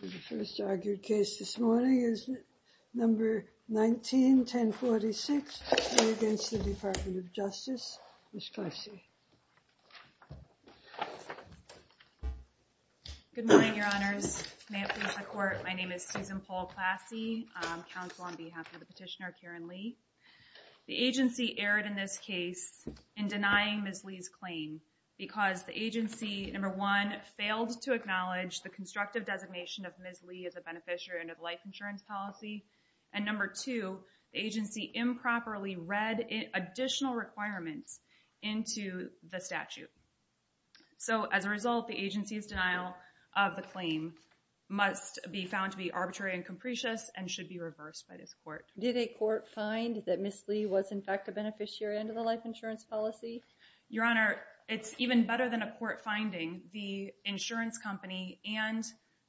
The first argued case this morning is number 19, 1046 against the Department of Justice, Ms. Clasey. Good morning, your honors. May it please the court, my name is Susan Paul Clasey, counsel on behalf of the petitioner, Karen Lee. The agency erred in this case in denying Ms. Lee's claim because the agency, number one, failed to acknowledge the constructive designation of Ms. Lee as a beneficiary under the life insurance policy, and number two, the agency improperly read additional requirements into the statute. So, as a result, the agency's denial of the claim must be found to be arbitrary and capricious and should be reversed by this court. Did a court find that Ms. Lee was, in fact, a beneficiary under the life insurance policy? Your honor, it's even better than a court finding. The insurance company and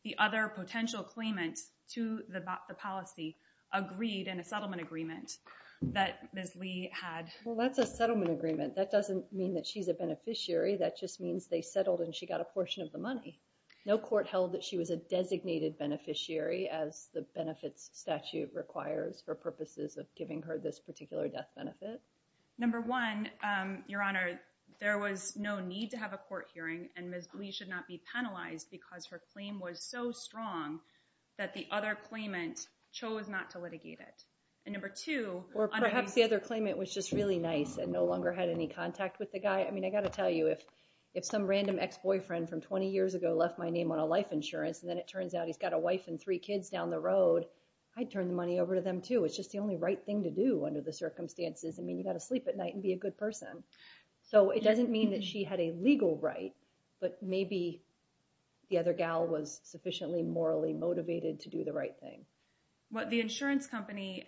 the other potential claimant to the policy agreed in a settlement agreement that Ms. Lee had. Well, that's a settlement agreement. That doesn't mean that she's a beneficiary. That just means they settled and she got a portion of the money. No court held that she was a designated beneficiary as the benefits statute requires for purposes of giving her this particular death benefit? Number one, your honor, there was no need to have a court hearing and Ms. Lee should not be penalized because her claim was so strong that the other claimant chose not to litigate it. Or perhaps the other claimant was just really nice and no longer had any contact with the guy. I mean, I got to tell you, if some random ex-boyfriend from 20 years ago left my name on a life insurance, and then it turns out he's got a wife and three kids down the road, I'd turn the money over to them too. It's just the only right thing to do under the circumstances. I mean, you got to sleep at night and be a good person. So, it doesn't mean that she had a legal right, but maybe the other gal was sufficiently morally motivated to do the right thing. Well, the insurance company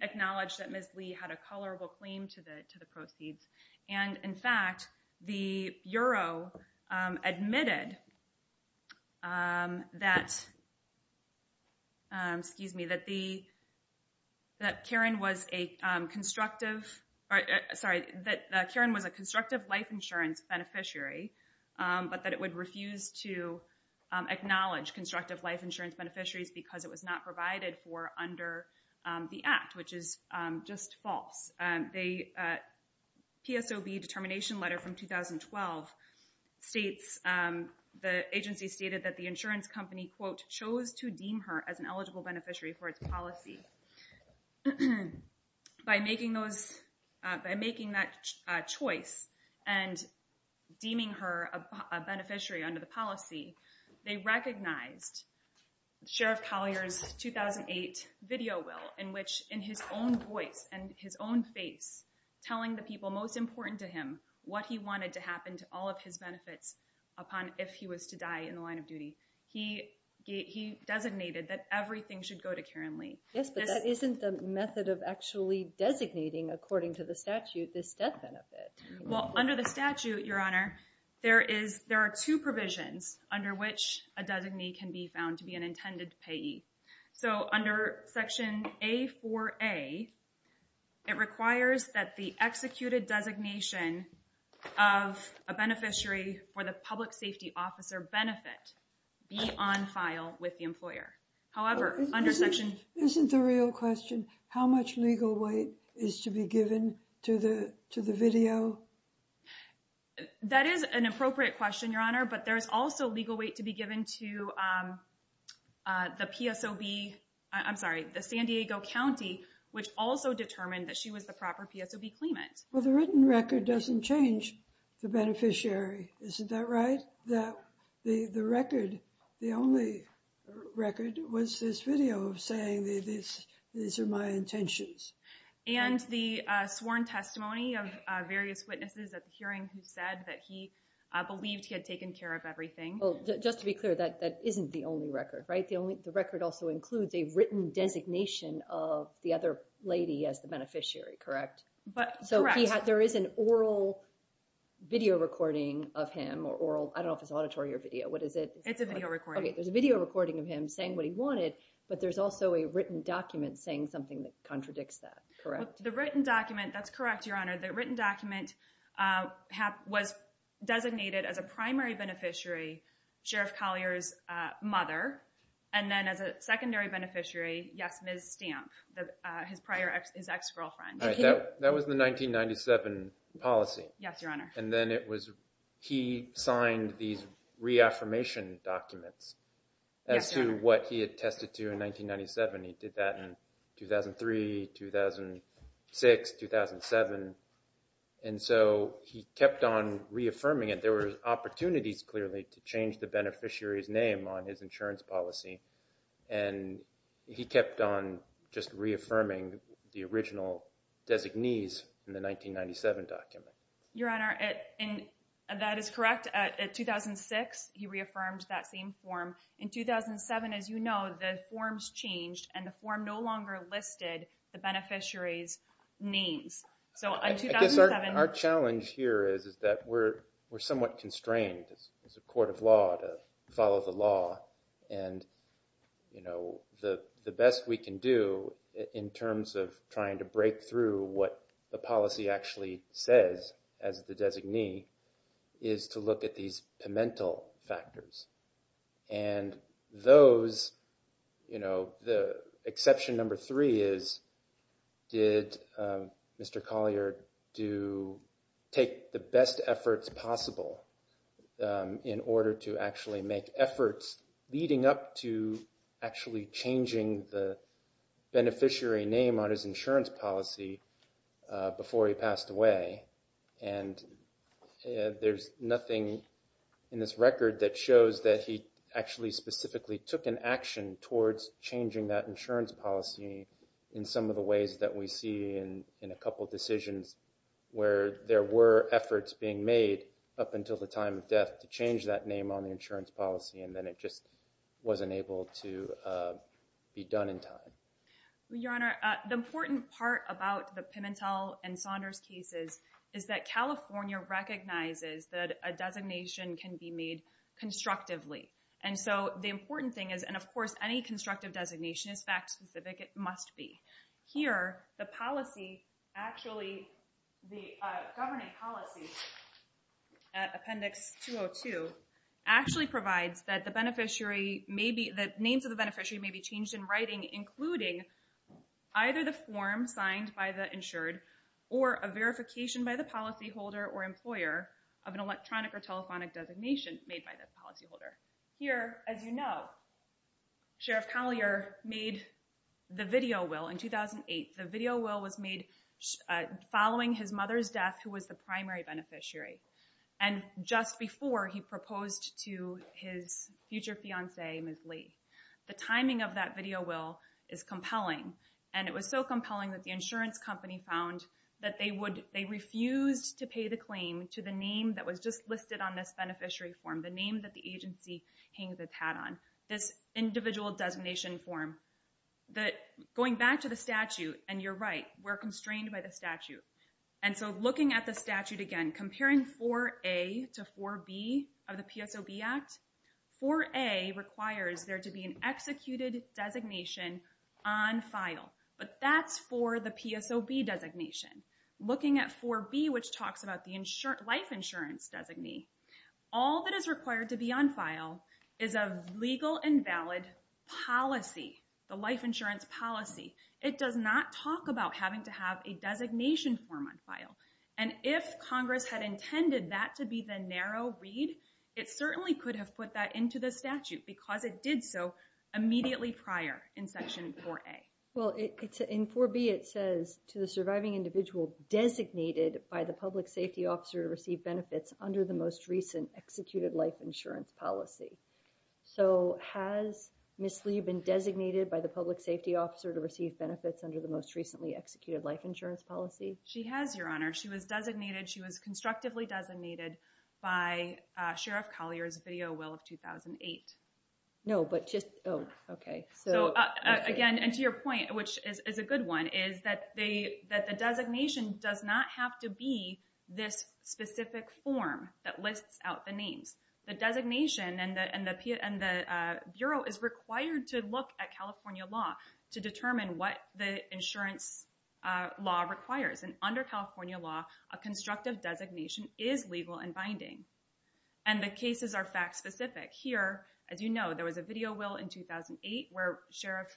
acknowledged that Ms. Lee had a colorable claim to the proceeds, and in fact, the bureau admitted that Karen was a constructive life insurance beneficiary, but that it would refuse to acknowledge constructive life insurance beneficiaries because it was not provided for under the Act, which is just false. The PSOB determination letter from 2012 states, the agency stated that the insurance company, quote, chose to deem her as an eligible beneficiary for its policy. By making that choice and deeming her a beneficiary under the policy, they recognized Sheriff Collier's 2008 video will in which, in his own voice and his own face, telling the people most important to him what he wanted to happen to all of his benefits upon if he was to die in the line of duty. He designated that everything should go to Karen Lee. Yes, but that isn't the method of actually designating, according to the statute, this death benefit. Well, under the statute, Your Honor, there are two provisions under which a designee can be found to be an intended payee. So under Section A4A, it requires that the executed designation of a beneficiary for the public safety officer benefit be on file with the employer. Isn't the real question how much legal weight is to be given to the video? That is an appropriate question, Your Honor, but there is also legal weight to be given to the PSOB, I'm sorry, the San Diego County, which also determined that she was the proper PSOB claimant. Well, the written record doesn't change the beneficiary, isn't that right? The record, the only record, was this video of saying these are my intentions. And the sworn testimony of various witnesses at the hearing who said that he believed he had taken care of everything. Just to be clear, that isn't the only record, right? The record also includes a written designation of the other lady as the beneficiary, correct? Correct. So there is an oral video recording of him or oral, I don't know if it's auditory or video, what is it? It's a video recording. Okay, there's a video recording of him saying what he wanted, but there's also a written document saying something that contradicts that, correct? The written document, that's correct, Your Honor. The written document was designated as a primary beneficiary, Sheriff Collier's mother, and then as a secondary beneficiary, yes, Ms. Stamp, his ex-girlfriend. That was the 1997 policy. Yes, Your Honor. And then he signed these reaffirmation documents as to what he attested to in 1997. He did that in 2003, 2006, 2007. And so he kept on reaffirming it. There were opportunities, clearly, to change the beneficiary's name on his insurance policy. And he kept on just reaffirming the original designees in the 1997 document. Your Honor, that is correct. In 2006, he reaffirmed that same form. In 2007, as you know, the forms changed and the form no longer listed the beneficiary's names. I guess our challenge here is that we're somewhat constrained as a court of law to follow the law. And, you know, the best we can do in terms of trying to break through what the policy actually says as the designee is to look at these pimental factors. And those, you know, the exception number three is, did Mr. Collier do take the best efforts possible in order to actually make efforts leading up to actually changing the beneficiary name on his insurance policy before he passed away? And there's nothing in this record that shows that he actually specifically took an action towards changing that insurance policy in some of the ways that we see in a couple decisions where there were efforts being made up until the time of death to change that name on the insurance policy. And then it just wasn't able to be done in time. Your Honor, the important part about the Pimentel and Saunders cases is that California recognizes that a designation can be made constructively. And so the important thing is, and of course any constructive designation is fact specific, it must be. Here, the policy actually, the governing policy, Appendix 202, actually provides that the beneficiary may be, that names of the beneficiary may be changed in writing, including either the form signed by the insured or a verification by the policyholder or employer of an electronic or telephonic designation made by the policyholder. Here, as you know, Sheriff Collier made the video will in 2008. The video will was made following his mother's death, who was the primary beneficiary, and just before he proposed to his future fiancee, Ms. Lee. The timing of that video will is compelling, and it was so compelling that the insurance company found that they refused to pay the claim to the name that was just listed on this beneficiary form, the name that the agency hangs its hat on, this individual designation form. Going back to the statute, and you're right, we're constrained by the statute. And so looking at the statute again, comparing 4A to 4B of the PSOB Act, 4A requires there to be an executed designation on file, but that's for the PSOB designation. Looking at 4B, which talks about the life insurance designee, all that is required to be on file is a legal and valid policy, the life insurance policy. It does not talk about having to have a designation form on file. And if Congress had intended that to be the narrow read, it certainly could have put that into the statute because it did so immediately prior in Section 4A. Well, in 4B, it says to the surviving individual designated by the public safety officer to receive benefits under the most recent executed life insurance policy. So has Ms. Lee been designated by the public safety officer to receive benefits under the most recently executed life insurance policy? She has, Your Honor. She was designated, she was constructively designated by Sheriff Collier's video will of 2008. No, but just, oh, okay. So again, and to your point, which is a good one, is that the designation does not have to be this specific form that lists out the names. The designation and the bureau is required to look at California law to determine what the insurance law requires. And under California law, a constructive designation is legal and binding. And the cases are fact specific. Here, as you know, there was a video will in 2008 where Sheriff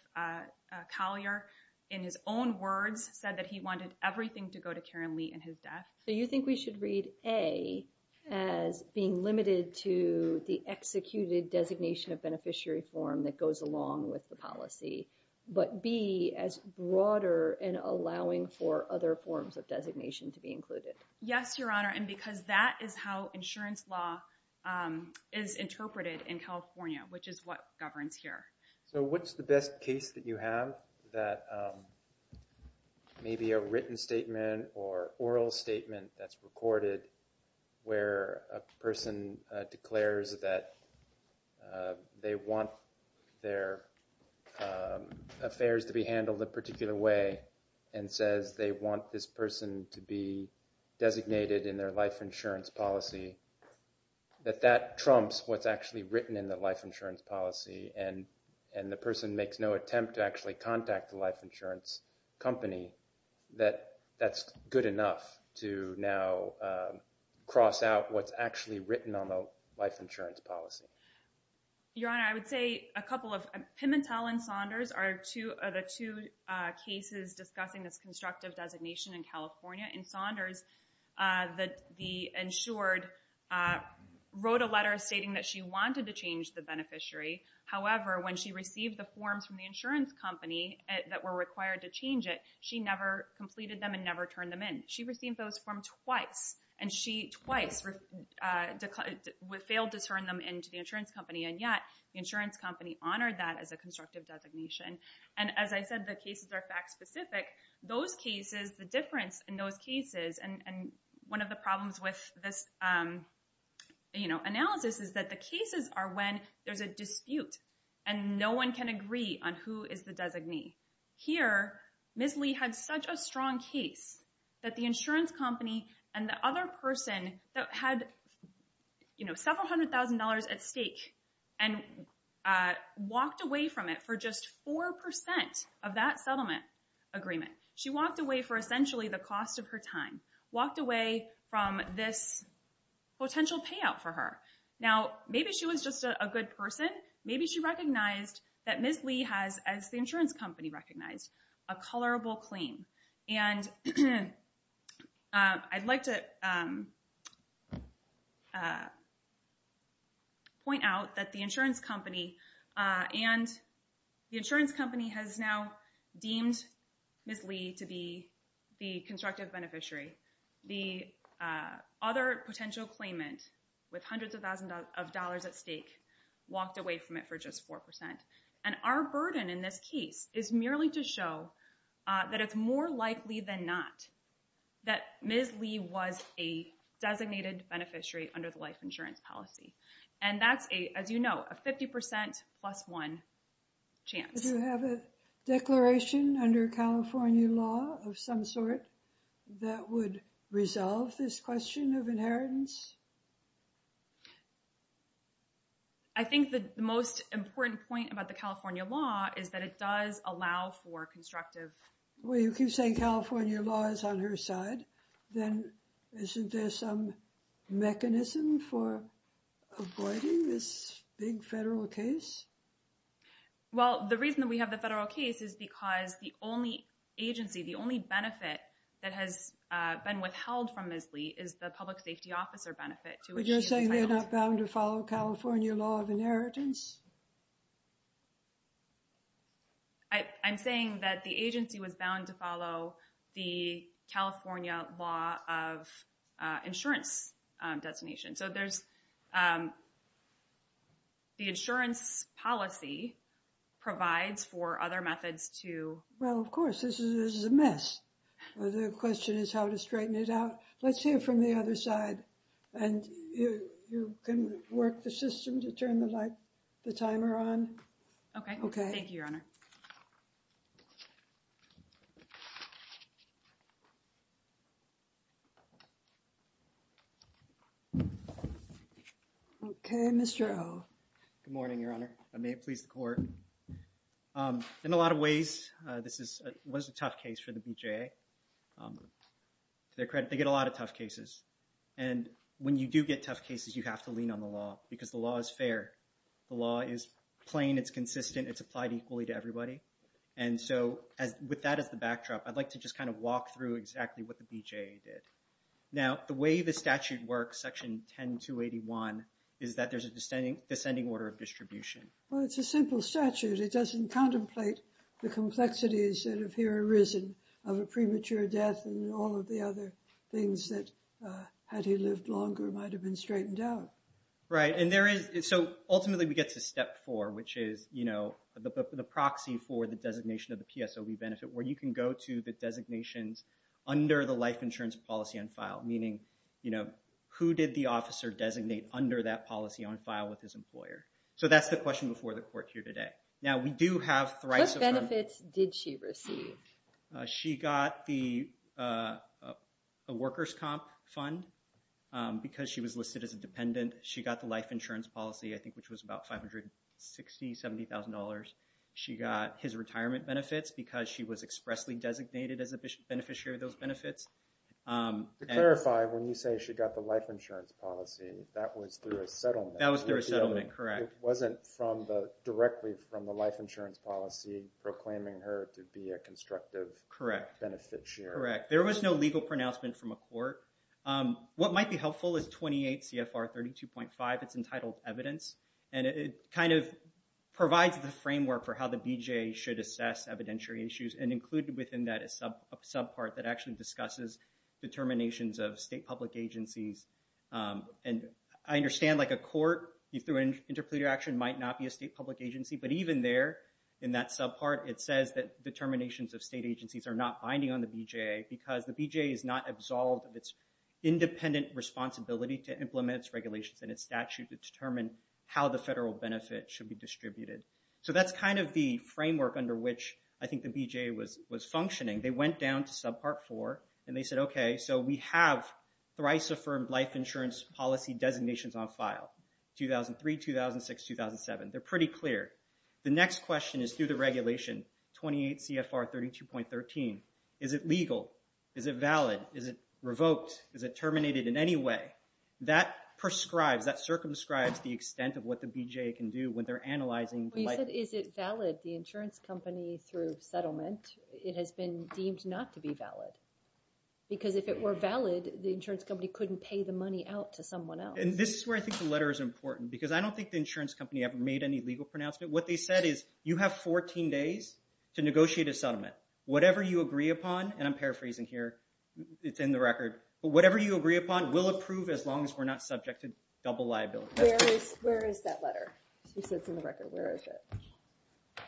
Collier, in his own words, said that he wanted everything to go to Karen Lee and his death. So you think we should read A as being limited to the executed designation of beneficiary form that goes along with the policy, but B as broader and allowing for other forms of designation to be included? Yes, Your Honor, and because that is how insurance law is interpreted in California, which is what governs here. So what's the best case that you have that maybe a written statement or oral statement that's recorded where a person declares that they want their affairs to be handled a particular way and says they want this person to be designated in their life insurance policy, that that trumps what's actually written in the life insurance policy and the person makes no attempt to actually contact the life insurance company, that that's good enough to now cross out what's actually written on the life insurance policy? Your Honor, I would say a couple of, Pimentel and Saunders are the two cases discussing this constructive designation in California. In Saunders, the insured wrote a letter stating that she wanted to change the beneficiary. However, when she received the forms from the insurance company that were required to change it, she never completed them and never turned them in. She received those forms twice and she twice failed to turn them in to the insurance company and yet the insurance company honored that as a constructive designation. And as I said, the cases are fact specific. Those cases, the difference in those cases, and one of the problems with this analysis is that the cases are when there's a dispute and no one can agree on who is the designee. Here, Ms. Lee had such a strong case that the insurance company and the other person that had several hundred thousand dollars at stake and walked away from it for just 4% of that settlement agreement. She walked away for essentially the cost of her time. Walked away from this potential payout for her. Now, maybe she was just a good person. Maybe she recognized that Ms. Lee has, as the insurance company recognized, a colorable claim. And I'd like to point out that the insurance company and the insurance company has now deemed Ms. Lee to be the constructive beneficiary. The other potential claimant with hundreds of thousands of dollars at stake walked away from it for just 4%. And our burden in this case is merely to show that it's more likely than not that Ms. Lee was a designated beneficiary under the life insurance policy. And that's a, as you know, a 50% plus one chance. Do you have a declaration under California law of some sort that would resolve this question of inheritance? I think the most important point about the California law is that it does allow for constructive... Avoiding this big federal case? Well, the reason that we have the federal case is because the only agency, the only benefit that has been withheld from Ms. Lee is the public safety officer benefit. But you're saying they're not bound to follow California law of inheritance? I'm saying that the agency was bound to follow the California law of insurance designation. So there's... The insurance policy provides for other methods to... Well, of course, this is a mess. The question is how to straighten it out. Let's hear from the other side. And you can work the system to turn the light, the timer on. Okay. Thank you, Your Honor. Okay, Mr. O. Good morning, Your Honor. May it please the Court. In a lot of ways, this was a tough case for the BJA. To their credit, they get a lot of tough cases. And when you do get tough cases, you have to lean on the law because the law is fair. The law is plain. It's consistent. It's applied equally to everybody. And so with that as the backdrop, I'd like to just kind of walk through exactly what the BJA did. Now, the way the statute works, Section 10281, is that there's a descending order of distribution. Well, it's a simple statute. It doesn't contemplate the complexities that have here arisen of a premature death and all of the other things that, had he lived longer, might have been straightened out. Right. And so ultimately, we get to step four, which is the proxy for the designation of the PSOB benefit, where you can go to the designations under the life insurance policy on file. Meaning, who did the officer designate under that policy on file with his employer? So that's the question before the Court here today. Now, we do have thrice- What benefits did she receive? She got the workers' comp fund because she was listed as a dependent. She got the life insurance policy, I think, which was about $560,000, $70,000. She got his retirement benefits because she was expressly designated as a beneficiary of those benefits. To clarify, when you say she got the life insurance policy, that was through a settlement. That was through a settlement, correct. It wasn't directly from the life insurance policy proclaiming her to be a constructive benefit sharer. Correct. There was no legal pronouncement from a court. What might be helpful is 28 CFR 32.5. It's entitled Evidence. And it kind of provides the framework for how the BJA should assess evidentiary issues. And included within that is a subpart that actually discusses determinations of state public agencies. And I understand, like, a court, through an interpleader action, might not be a state public agency. But even there, in that subpart, it says that determinations of state agencies are not binding on the BJA because the BJA is not absolved of its independent responsibility to implement its regulations and its statute to determine how the federal benefit should be distributed. So that's kind of the framework under which I think the BJA was functioning. They went down to subpart four, and they said, okay, so we have thrice affirmed life insurance policy designations on file. 2003, 2006, 2007. They're pretty clear. The next question is through the regulation, 28 CFR 32.13. Is it legal? Is it valid? Is it revoked? Is it terminated in any way? That prescribes, that circumscribes the extent of what the BJA can do when they're analyzing the life insurance policy. It has been deemed not to be valid. Because if it were valid, the insurance company couldn't pay the money out to someone else. And this is where I think the letter is important. Because I don't think the insurance company ever made any legal pronouncement. What they said is, you have 14 days to negotiate a settlement. Whatever you agree upon, and I'm paraphrasing here, it's in the record. But whatever you agree upon, we'll approve as long as we're not subject to double liability. Where is that letter? She said it's in the record. Where is it?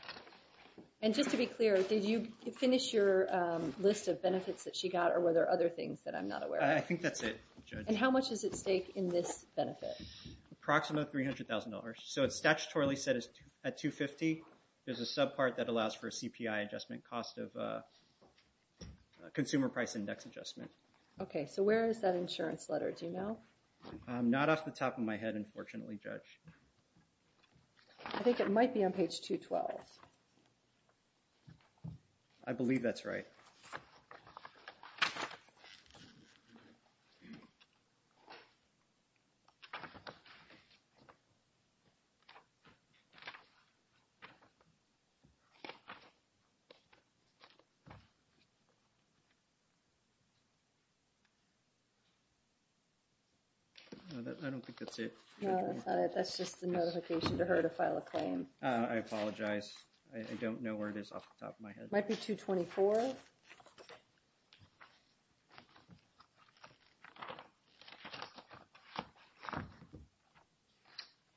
And just to be clear, did you finish your list of benefits that she got, or were there other things that I'm not aware of? I think that's it, Judge. And how much is at stake in this benefit? Approximately $300,000. So it's statutorily set at $250,000. There's a subpart that allows for a CPI adjustment, cost of consumer price index adjustment. Okay, so where is that insurance letter? Do you know? Not off the top of my head, unfortunately, Judge. I think it might be on page 212. I believe that's right. I don't think that's it. No, that's just a notification to her to file a claim. I apologize. I don't know where it is off the top of my head. It might be 224.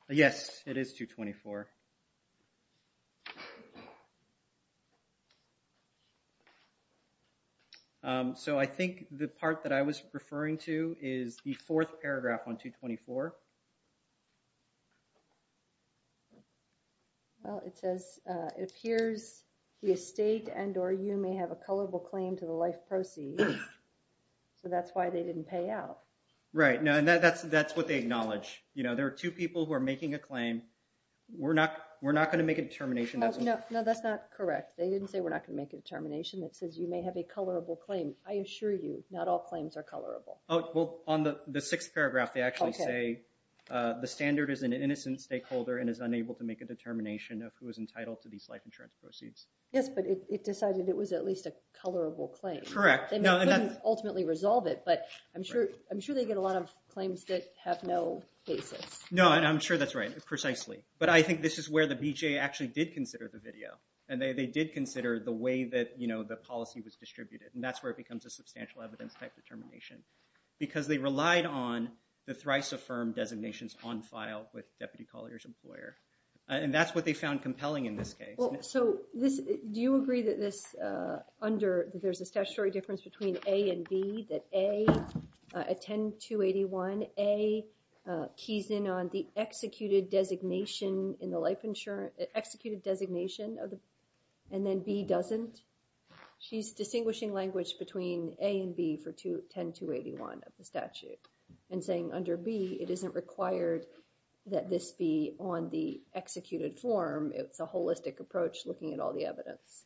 Yes, it is 224. Okay. So I think the part that I was referring to is the fourth paragraph on 224. Well, it says, it appears the estate and or you may have a colorable claim to the life proceeds. So that's why they didn't pay out. Right, and that's what they acknowledge. There are two people who are making a claim. We're not going to make a determination. No, that's not correct. They didn't say we're not going to make a determination. It says you may have a colorable claim. I assure you, not all claims are colorable. Well, on the sixth paragraph, they actually say the standard is an innocent stakeholder and is unable to make a determination of who is entitled to these life insurance proceeds. Yes, but it decided it was at least a colorable claim. Correct. They couldn't ultimately resolve it, but I'm sure they get a lot of claims that have no basis. No, and I'm sure that's right, precisely. But I think this is where the BJA actually did consider the video, and they did consider the way that the policy was distributed, and that's where it becomes a substantial evidence-type determination because they relied on the thrice-affirmed designations on file with Deputy Collier's employer. And that's what they found compelling in this case. So do you agree that there's a statutory difference between A and B, that A, at 10-281, A keys in on the executed designation in the life insurance, executed designation, and then B doesn't? She's distinguishing language between A and B for 10-281 of the statute and saying under B, it isn't required that this be on the executed form. It's a holistic approach looking at all the evidence.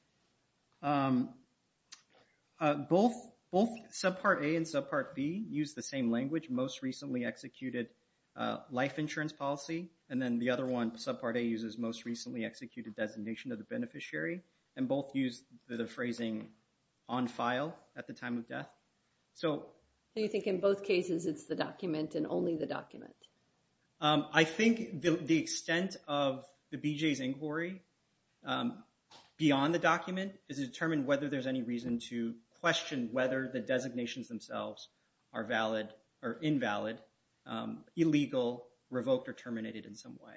Both Subpart A and Subpart B use the same language, most recently executed life insurance policy, and then the other one, Subpart A, uses most recently executed designation of the beneficiary, and both use the phrasing on file at the time of death. So you think in both cases it's the document and only the document? I think the extent of the BJA's inquiry beyond the document is to determine whether there's any reason to question whether the designations themselves are valid or invalid, illegal, revoked, or terminated in some way.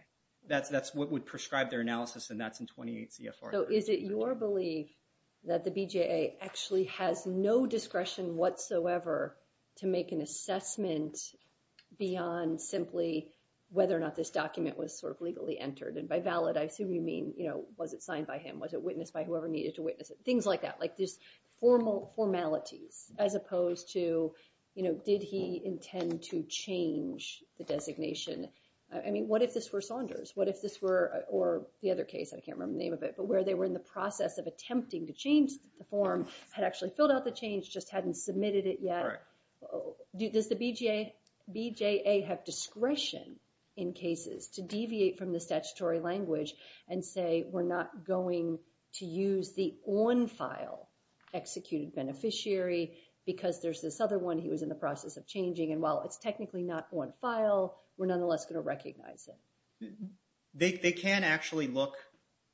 That's what would prescribe their analysis, and that's in 28 CFR. So is it your belief that the BJA actually has no discretion whatsoever to make an assessment beyond simply whether or not this document was sort of legally entered? And by valid, I assume you mean, you know, was it signed by him? Was it witnessed by whoever needed to witness it? Things like that, like these formalities as opposed to, you know, did he intend to change the designation? I mean, what if this were Saunders? What if this were, or the other case, I can't remember the name of it, but where they were in the process of attempting to change the form, had actually filled out the change, just hadn't submitted it yet. Does the BJA have discretion in cases to deviate from the statutory language and say we're not going to use the on-file executed beneficiary because there's this other one he was in the process of changing, and while it's technically not on-file, we're nonetheless going to recognize it? They can actually look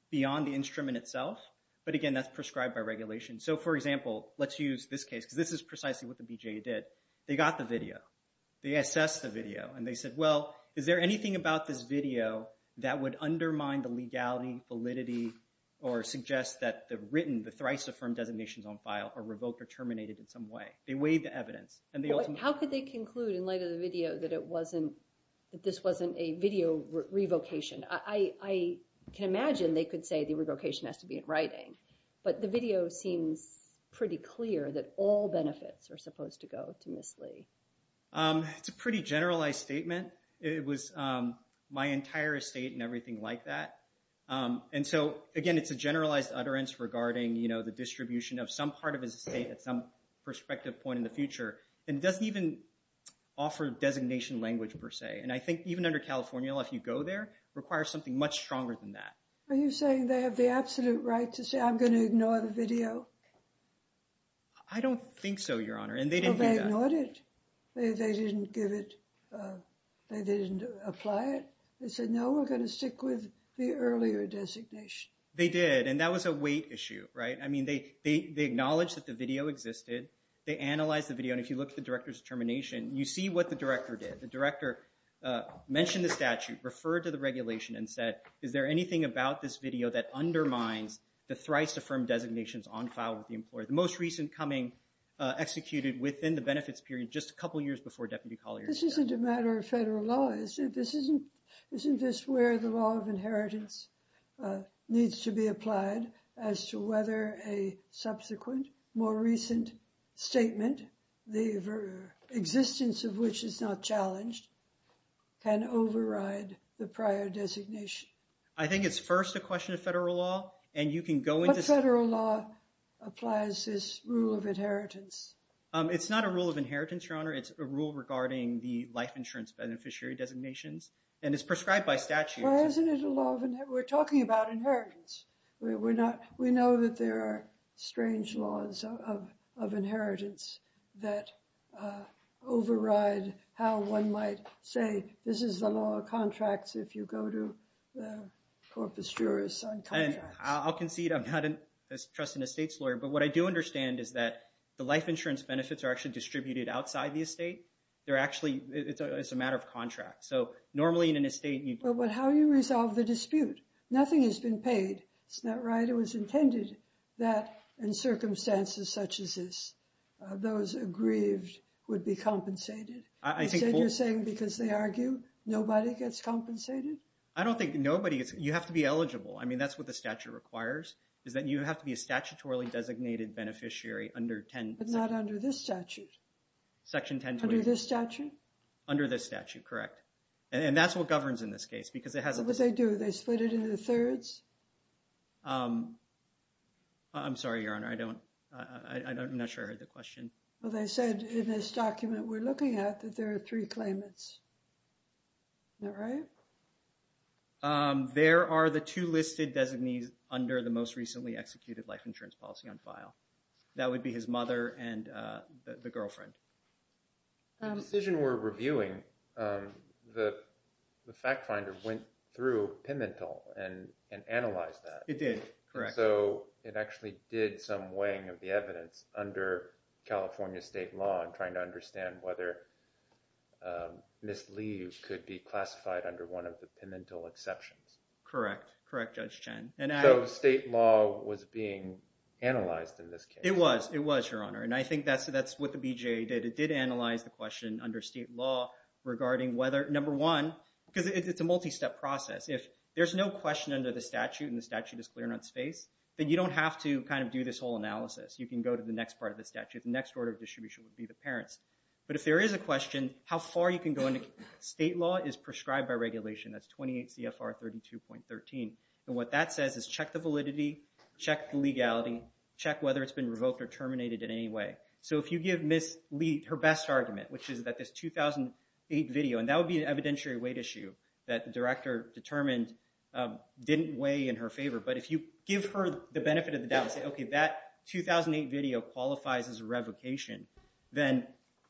beyond the instrument itself, but, again, that's prescribed by regulation. So, for example, let's use this case because this is precisely what the BJA did. They got the video. They assessed the video, and they said, well, is there anything about this video that would undermine the legality, validity, or suggest that the written, the thrice-affirmed designations on file are revoked or terminated in some way? They weighed the evidence, and they ultimately— How could they conclude in light of the video that it wasn't, that this wasn't a video revocation? I can imagine they could say the revocation has to be in writing, but the video seems pretty clear that all benefits are supposed to go to Ms. Lee. It's a pretty generalized statement. It was my entire estate and everything like that, and so, again, it's a generalized utterance regarding the distribution of some part of his estate at some perspective point in the future, and it doesn't even offer designation language per se, and I think even under California law, if you go there, it requires something much stronger than that. Are you saying they have the absolute right to say, I'm going to ignore the video? I don't think so, Your Honor, and they didn't do that. Well, they ignored it. They didn't give it—they didn't apply it. They said, no, we're going to stick with the earlier designation. They did, and that was a weight issue, right? I mean, they acknowledged that the video existed. They analyzed the video, and if you look at the director's determination, you see what the director did. The director mentioned the statute, referred to the regulation, and said, is there anything about this video that undermines the thrice-affirmed designations on file with the employer? The most recent coming executed within the benefits period, just a couple years before Deputy Collier's death. This isn't a matter of federal law. Isn't this where the law of inheritance needs to be applied as to whether a subsequent, more recent statement, the existence of which is not challenged, can override the prior designation? I think it's first a question of federal law, and you can go into— What federal law applies this rule of inheritance? It's not a rule of inheritance, Your Honor. It's a rule regarding the life insurance beneficiary designations, and it's prescribed by statute. Well, isn't it a law of—we're talking about inheritance. We know that there are strange laws of inheritance that override how one might say, this is the law of contracts if you go to the corpus juris on contracts. And I'll concede I'm not a trusted estates lawyer, but what I do understand is that the life insurance benefits are actually distributed outside the estate. They're actually—it's a matter of contract. So normally in an estate— But how do you resolve the dispute? Nothing has been paid. Isn't that right? It was intended that in circumstances such as this, those aggrieved would be compensated. Instead you're saying because they argue, nobody gets compensated? I don't think nobody gets—you have to be eligible. I mean, that's what the statute requires is that you have to be a statutorily designated beneficiary under 10— But not under this statute. Section 1028. Under this statute? Under this statute, correct. And that's what governs in this case because it has a— What did they do? They split it into thirds? I'm sorry, Your Honor. I don't—I'm not sure I heard the question. Well, they said in this document we're looking at that there are three claimants. Isn't that right? There are the two listed designees under the most recently executed life insurance policy on file. That would be his mother and the girlfriend. The decision we're reviewing, the fact finder went through Pimentel and analyzed that. It did, correct. And so it actually did some weighing of the evidence under California state law and trying to understand whether mislead could be classified under one of the Pimentel exceptions. Correct. Correct, Judge Chen. So state law was being analyzed in this case? It was. It was, Your Honor. And I think that's what the BJA did. It did analyze the question under state law regarding whether, number one, because it's a multi-step process. If there's no question under the statute and the statute is clear in its face, then you don't have to kind of do this whole analysis. You can go to the next part of the statute. The next order of distribution would be the parents. But if there is a question, how far you can go into state law is prescribed by regulation. That's 28 CFR 32.13. And what that says is check the validity, check the legality, check whether it's been revoked or terminated in any way. So if you give Ms. Leet her best argument, which is that this 2008 video, and that would be an evidentiary weight issue that the director determined didn't weigh in her favor. But if you give her the benefit of the doubt and say, okay, that 2008 video qualifies as a revocation, then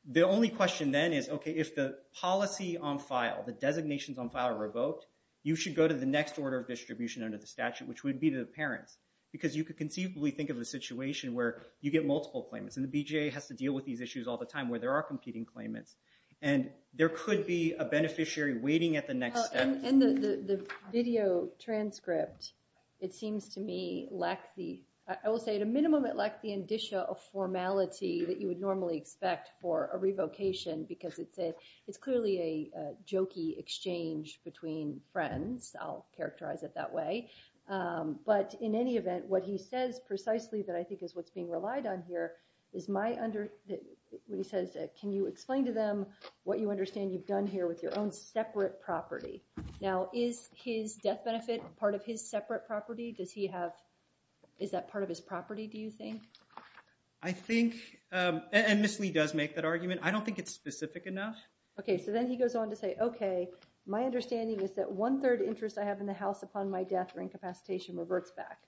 the only question then is, okay, if the policy on file, the designations on file are revoked, you should go to the next order of distribution under the statute, which would be the parents. Because you could conceivably think of a situation where you get multiple claimants, and the BJA has to deal with these issues all the time where there are competing claimants. And there could be a beneficiary waiting at the next step. And the video transcript, it seems to me, lacks the – I will say at a minimum it lacks the indicia of formality that you would normally expect for a revocation because it's clearly a jokey exchange between friends. I'll characterize it that way. But in any event, what he says precisely that I think is what's being relied on here is my – when he says, can you explain to them what you understand you've done here with your own separate property? Now, is his death benefit part of his separate property? Does he have – is that part of his property, do you think? I think – and Ms. Lee does make that argument. I don't think it's specific enough. Okay, so then he goes on to say, okay, my understanding is that one-third interest I have in the house upon my death or incapacitation reverts back.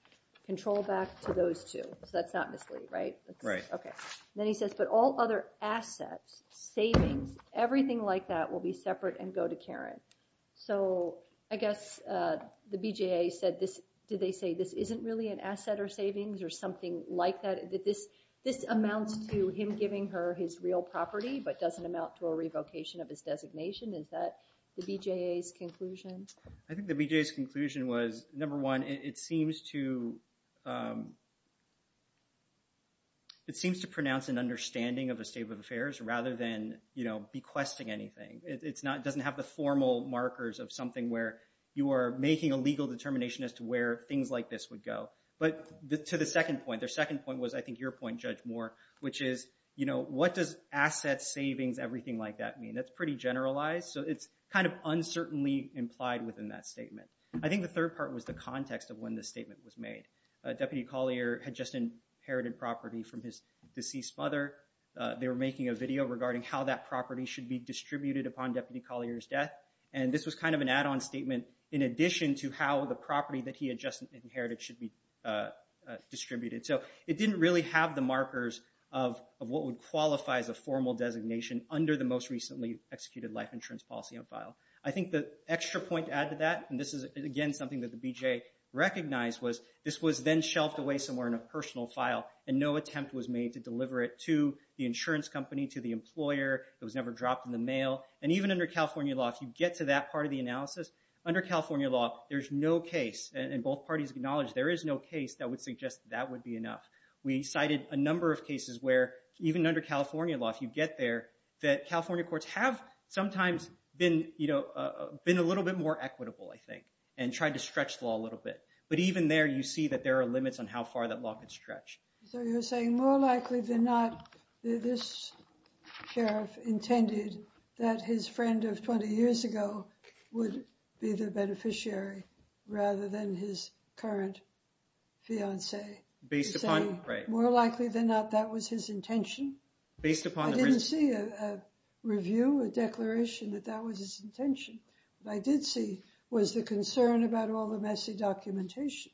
Control back to those two. So that's not Ms. Lee, right? Right. Okay. Then he says, but all other assets, savings, everything like that will be separate and go to Karen. So I guess the BJA said this – did they say this isn't really an asset or savings or something like that? That this amounts to him giving her his real property but doesn't amount to a revocation of his designation? Is that the BJA's conclusion? I think the BJA's conclusion was, number one, it seems to pronounce an understanding of a state of affairs rather than, you know, bequesting anything. It doesn't have the formal markers of something where you are making a legal determination as to where things like this would go. But to the second point, the second point was, I think, your point, Judge Moore, which is, you know, what does assets, savings, everything like that mean? That's pretty generalized. So it's kind of uncertainly implied within that statement. I think the third part was the context of when the statement was made. Deputy Collier had just inherited property from his deceased mother. They were making a video regarding how that property should be distributed upon Deputy Collier's death. And this was kind of an add-on statement in addition to how the property that he had just inherited should be distributed. So it didn't really have the markers of what would qualify as a formal designation under the most recently executed life insurance policy on file. I think the extra point to add to that, and this is, again, something that the BJA recognized, was this was then shelved away somewhere in a personal file, and no attempt was made to deliver it to the insurance company, to the employer. It was never dropped in the mail. And even under California law, if you get to that part of the analysis, under California law there's no case, and both parties acknowledge there is no case that would suggest that would be enough. We cited a number of cases where even under California law, if you get there, that California courts have sometimes been, you know, been a little bit more equitable, I think, and tried to stretch the law a little bit. But even there you see that there are limits on how far that law could stretch. So you're saying more likely than not this sheriff intended that his friend of 20 years ago would be the beneficiary rather than his current fiancée. He's saying more likely than not that was his intention. I didn't see a review, a declaration that that was his intention. What I did see was the concern about all the messy documentation.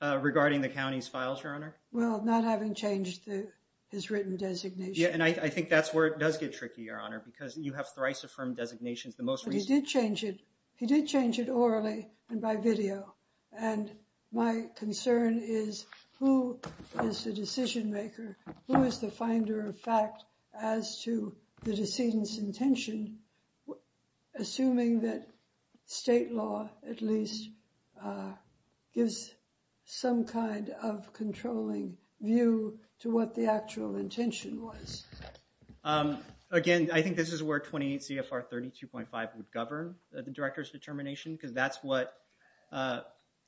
Regarding the county's files, Your Honor? Well, not having changed his written designation. Yeah, and I think that's where it does get tricky, Your Honor, because you have thrice-affirmed designations. But he did change it. He did change it orally and by video. And my concern is who is the decision maker? Who is the finder of fact as to the decedent's intention, assuming that state law at least gives some kind of controlling view to what the actual intention was? Again, I think this is where 28 CFR 32.5 would govern the director's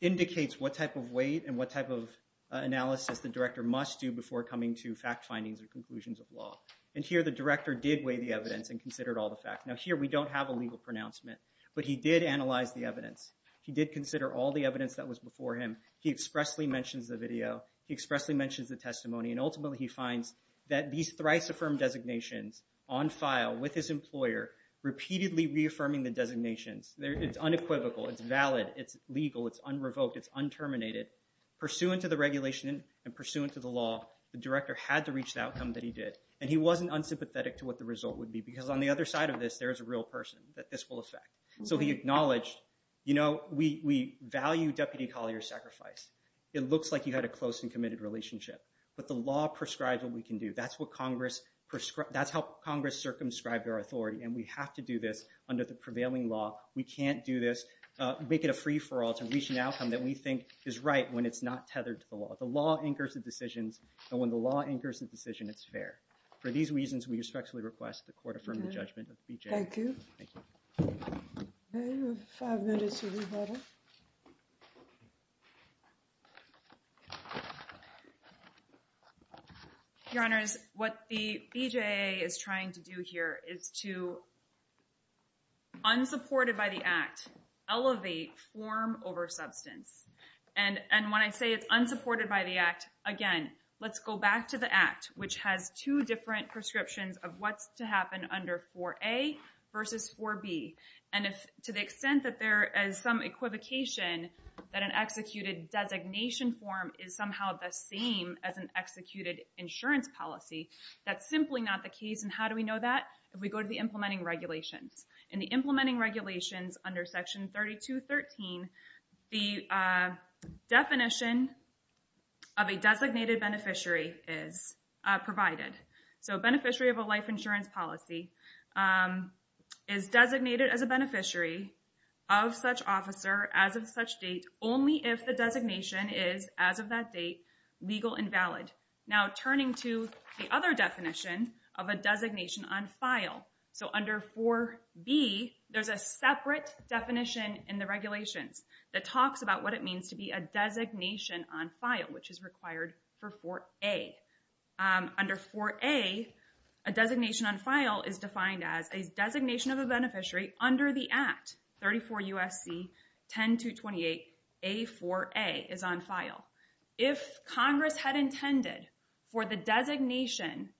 indicates what type of weight and what type of analysis the director must do before coming to fact findings or conclusions of law. And here the director did weigh the evidence and considered all the facts. Now, here we don't have a legal pronouncement. But he did analyze the evidence. He did consider all the evidence that was before him. He expressly mentions the video. He expressly mentions the testimony. And ultimately he finds that these thrice-affirmed designations on file with his employer repeatedly reaffirming the designations. It's unequivocal. It's valid. It's legal. It's un-revoked. It's un-terminated. Pursuant to the regulation and pursuant to the law, the director had to reach the outcome that he did. And he wasn't unsympathetic to what the result would be because on the other side of this, there's a real person that this will affect. So he acknowledged, you know, we value Deputy Collier's sacrifice. It looks like you had a close and committed relationship. But the law prescribes what we can do. That's how Congress circumscribed our authority. And we have to do this under the prevailing law. We can't do this. We can't make it a free-for-all to reach an outcome that we think is right when it's not tethered to the law. The law anchors the decisions. And when the law anchors the decision, it's fair. For these reasons, we respectfully request the court affirm the judgment of BJA. Thank you. Thank you. We have five minutes for rebuttal. Your Honors, what the BJA is trying to do here is to, unsupported by the Act, elevate form over substance. And when I say it's unsupported by the Act, again, let's go back to the Act, which has two different prescriptions of what's to happen under 4A versus 4B. And to the extent that there is some equivocation that an executed designation form is somehow the same as an executed insurance policy, that's simply not the case. And how do we know that? If we go to the implementing regulations. In the implementing regulations under Section 32.13, the definition of a designated beneficiary is provided. So a beneficiary of a life insurance policy is designated as a beneficiary of such officer as of such date only if the designation is, as of that date, legal and valid. Now turning to the other definition of a designation on file. So under 4B, there's a separate definition in the regulations that talks about what it means to be a designation on file, which is required for 4A. Under 4A, a designation on file is defined as a designation of a beneficiary under the Act, 34 U.S.C. 10-228-A4A is on file. If Congress had intended for the designation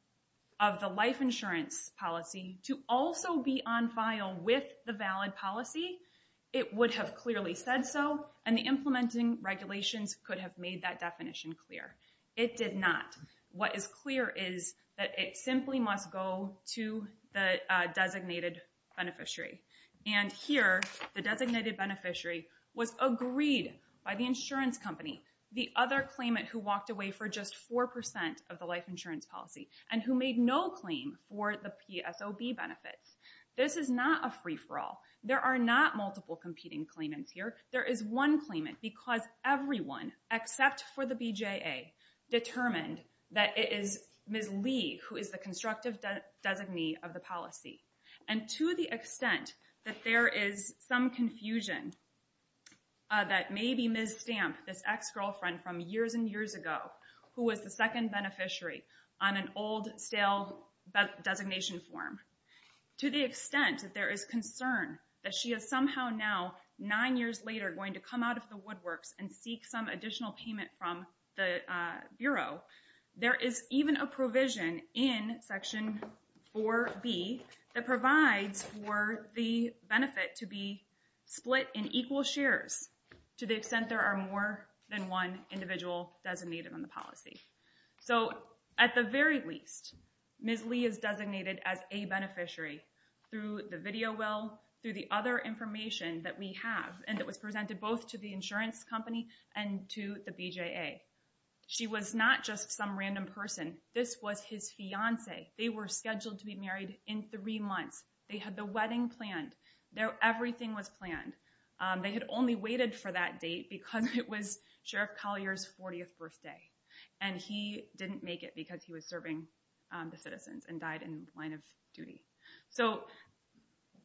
of the life insurance policy to also be on file with the valid policy, it would have clearly said so, and the implementing regulations could have made that definition clear. It did not. What is clear is that it simply must go to the designated beneficiary. And here, the designated beneficiary was agreed by the insurance company, the other claimant who walked away for just 4% of the life insurance policy and who made no claim for the PSOB benefits. This is not a free-for-all. There are not multiple competing claimants here. There is one claimant because everyone except for the BJA determined that it is Ms. Lee who is the constructive designee of the policy. And to the extent that there is some confusion that maybe Ms. Stamp, this ex-girlfriend from years and years ago who was the second beneficiary on an old, stale designation form, to the extent that there is concern that she is somehow now nine years later going to come out of the woodworks and seek some additional payment from the Bureau, there is even a provision in Section 4B that provides for the benefit to be split in equal shares to the extent there are more than one individual designated on the policy. So at the very least, Ms. Lee is designated as a beneficiary through the video will, through the other information that we have and that was presented both to the insurance company and to the BJA. She was not just some random person. This was his fiancé. They were scheduled to be married in three months. They had the wedding planned. Everything was planned. They had only waited for that date because it was Sheriff Collier's 40th birthday and he didn't make it because he was serving the citizens and died in the line of duty. So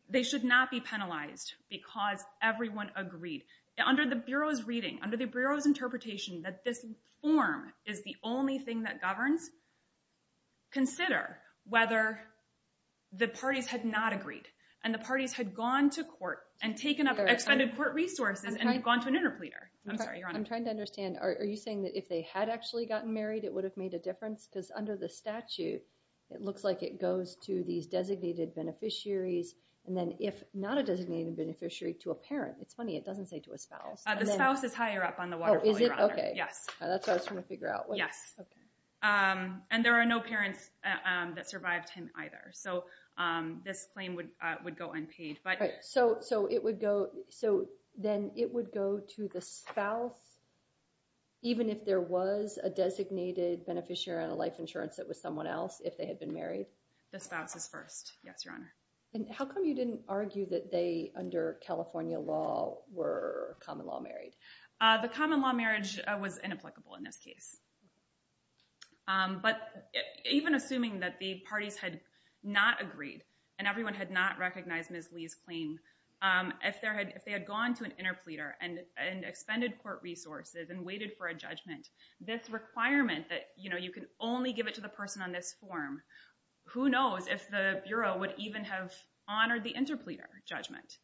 they should not be penalized because everyone agreed. Under the Bureau's reading, under the Bureau's interpretation that this form is the only thing that governs, consider whether the parties had not agreed and the parties had gone to court and taken up expended court resources and gone to an interpleader. I'm sorry, Your Honor. I'm trying to understand. Are you saying that if they had actually gotten married, it would have made a difference? Because under the statute, it looks like it goes to these designated beneficiaries and then if not a designated beneficiary, to a parent. It's funny. It doesn't say to a spouse. The spouse is higher up on the waterfall, Your Honor. Oh, is it? Okay. Yes. That's what I was trying to figure out. Yes. And there are no parents that survived him either. So this claim would go unpaid. So then it would go to the spouse even if there was a designated beneficiary on a life insurance that was someone else if they had been married? The spouse is first. Yes, Your Honor. And how come you didn't argue that they, under California law, were common law married? The common law marriage was inapplicable in this case. But even assuming that the parties had not agreed and everyone had not recognized Ms. Lee's claim, if they had gone to an interpleader and expended court resources and waited for a judgment, this requirement that you can only give it to the person on this form, who knows if the Bureau would even have honored the interpleader judgment.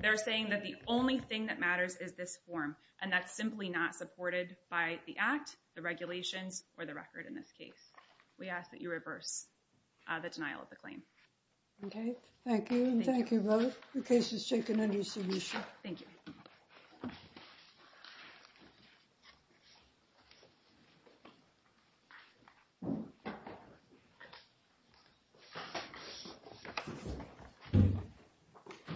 They're saying that the only thing that matters is this form and that's simply not supported by the Act, the regulations, or the record in this case. We ask that you reverse the denial of the claim. Okay. Thank you. Thank you both. The case is taken under submission. Thank you.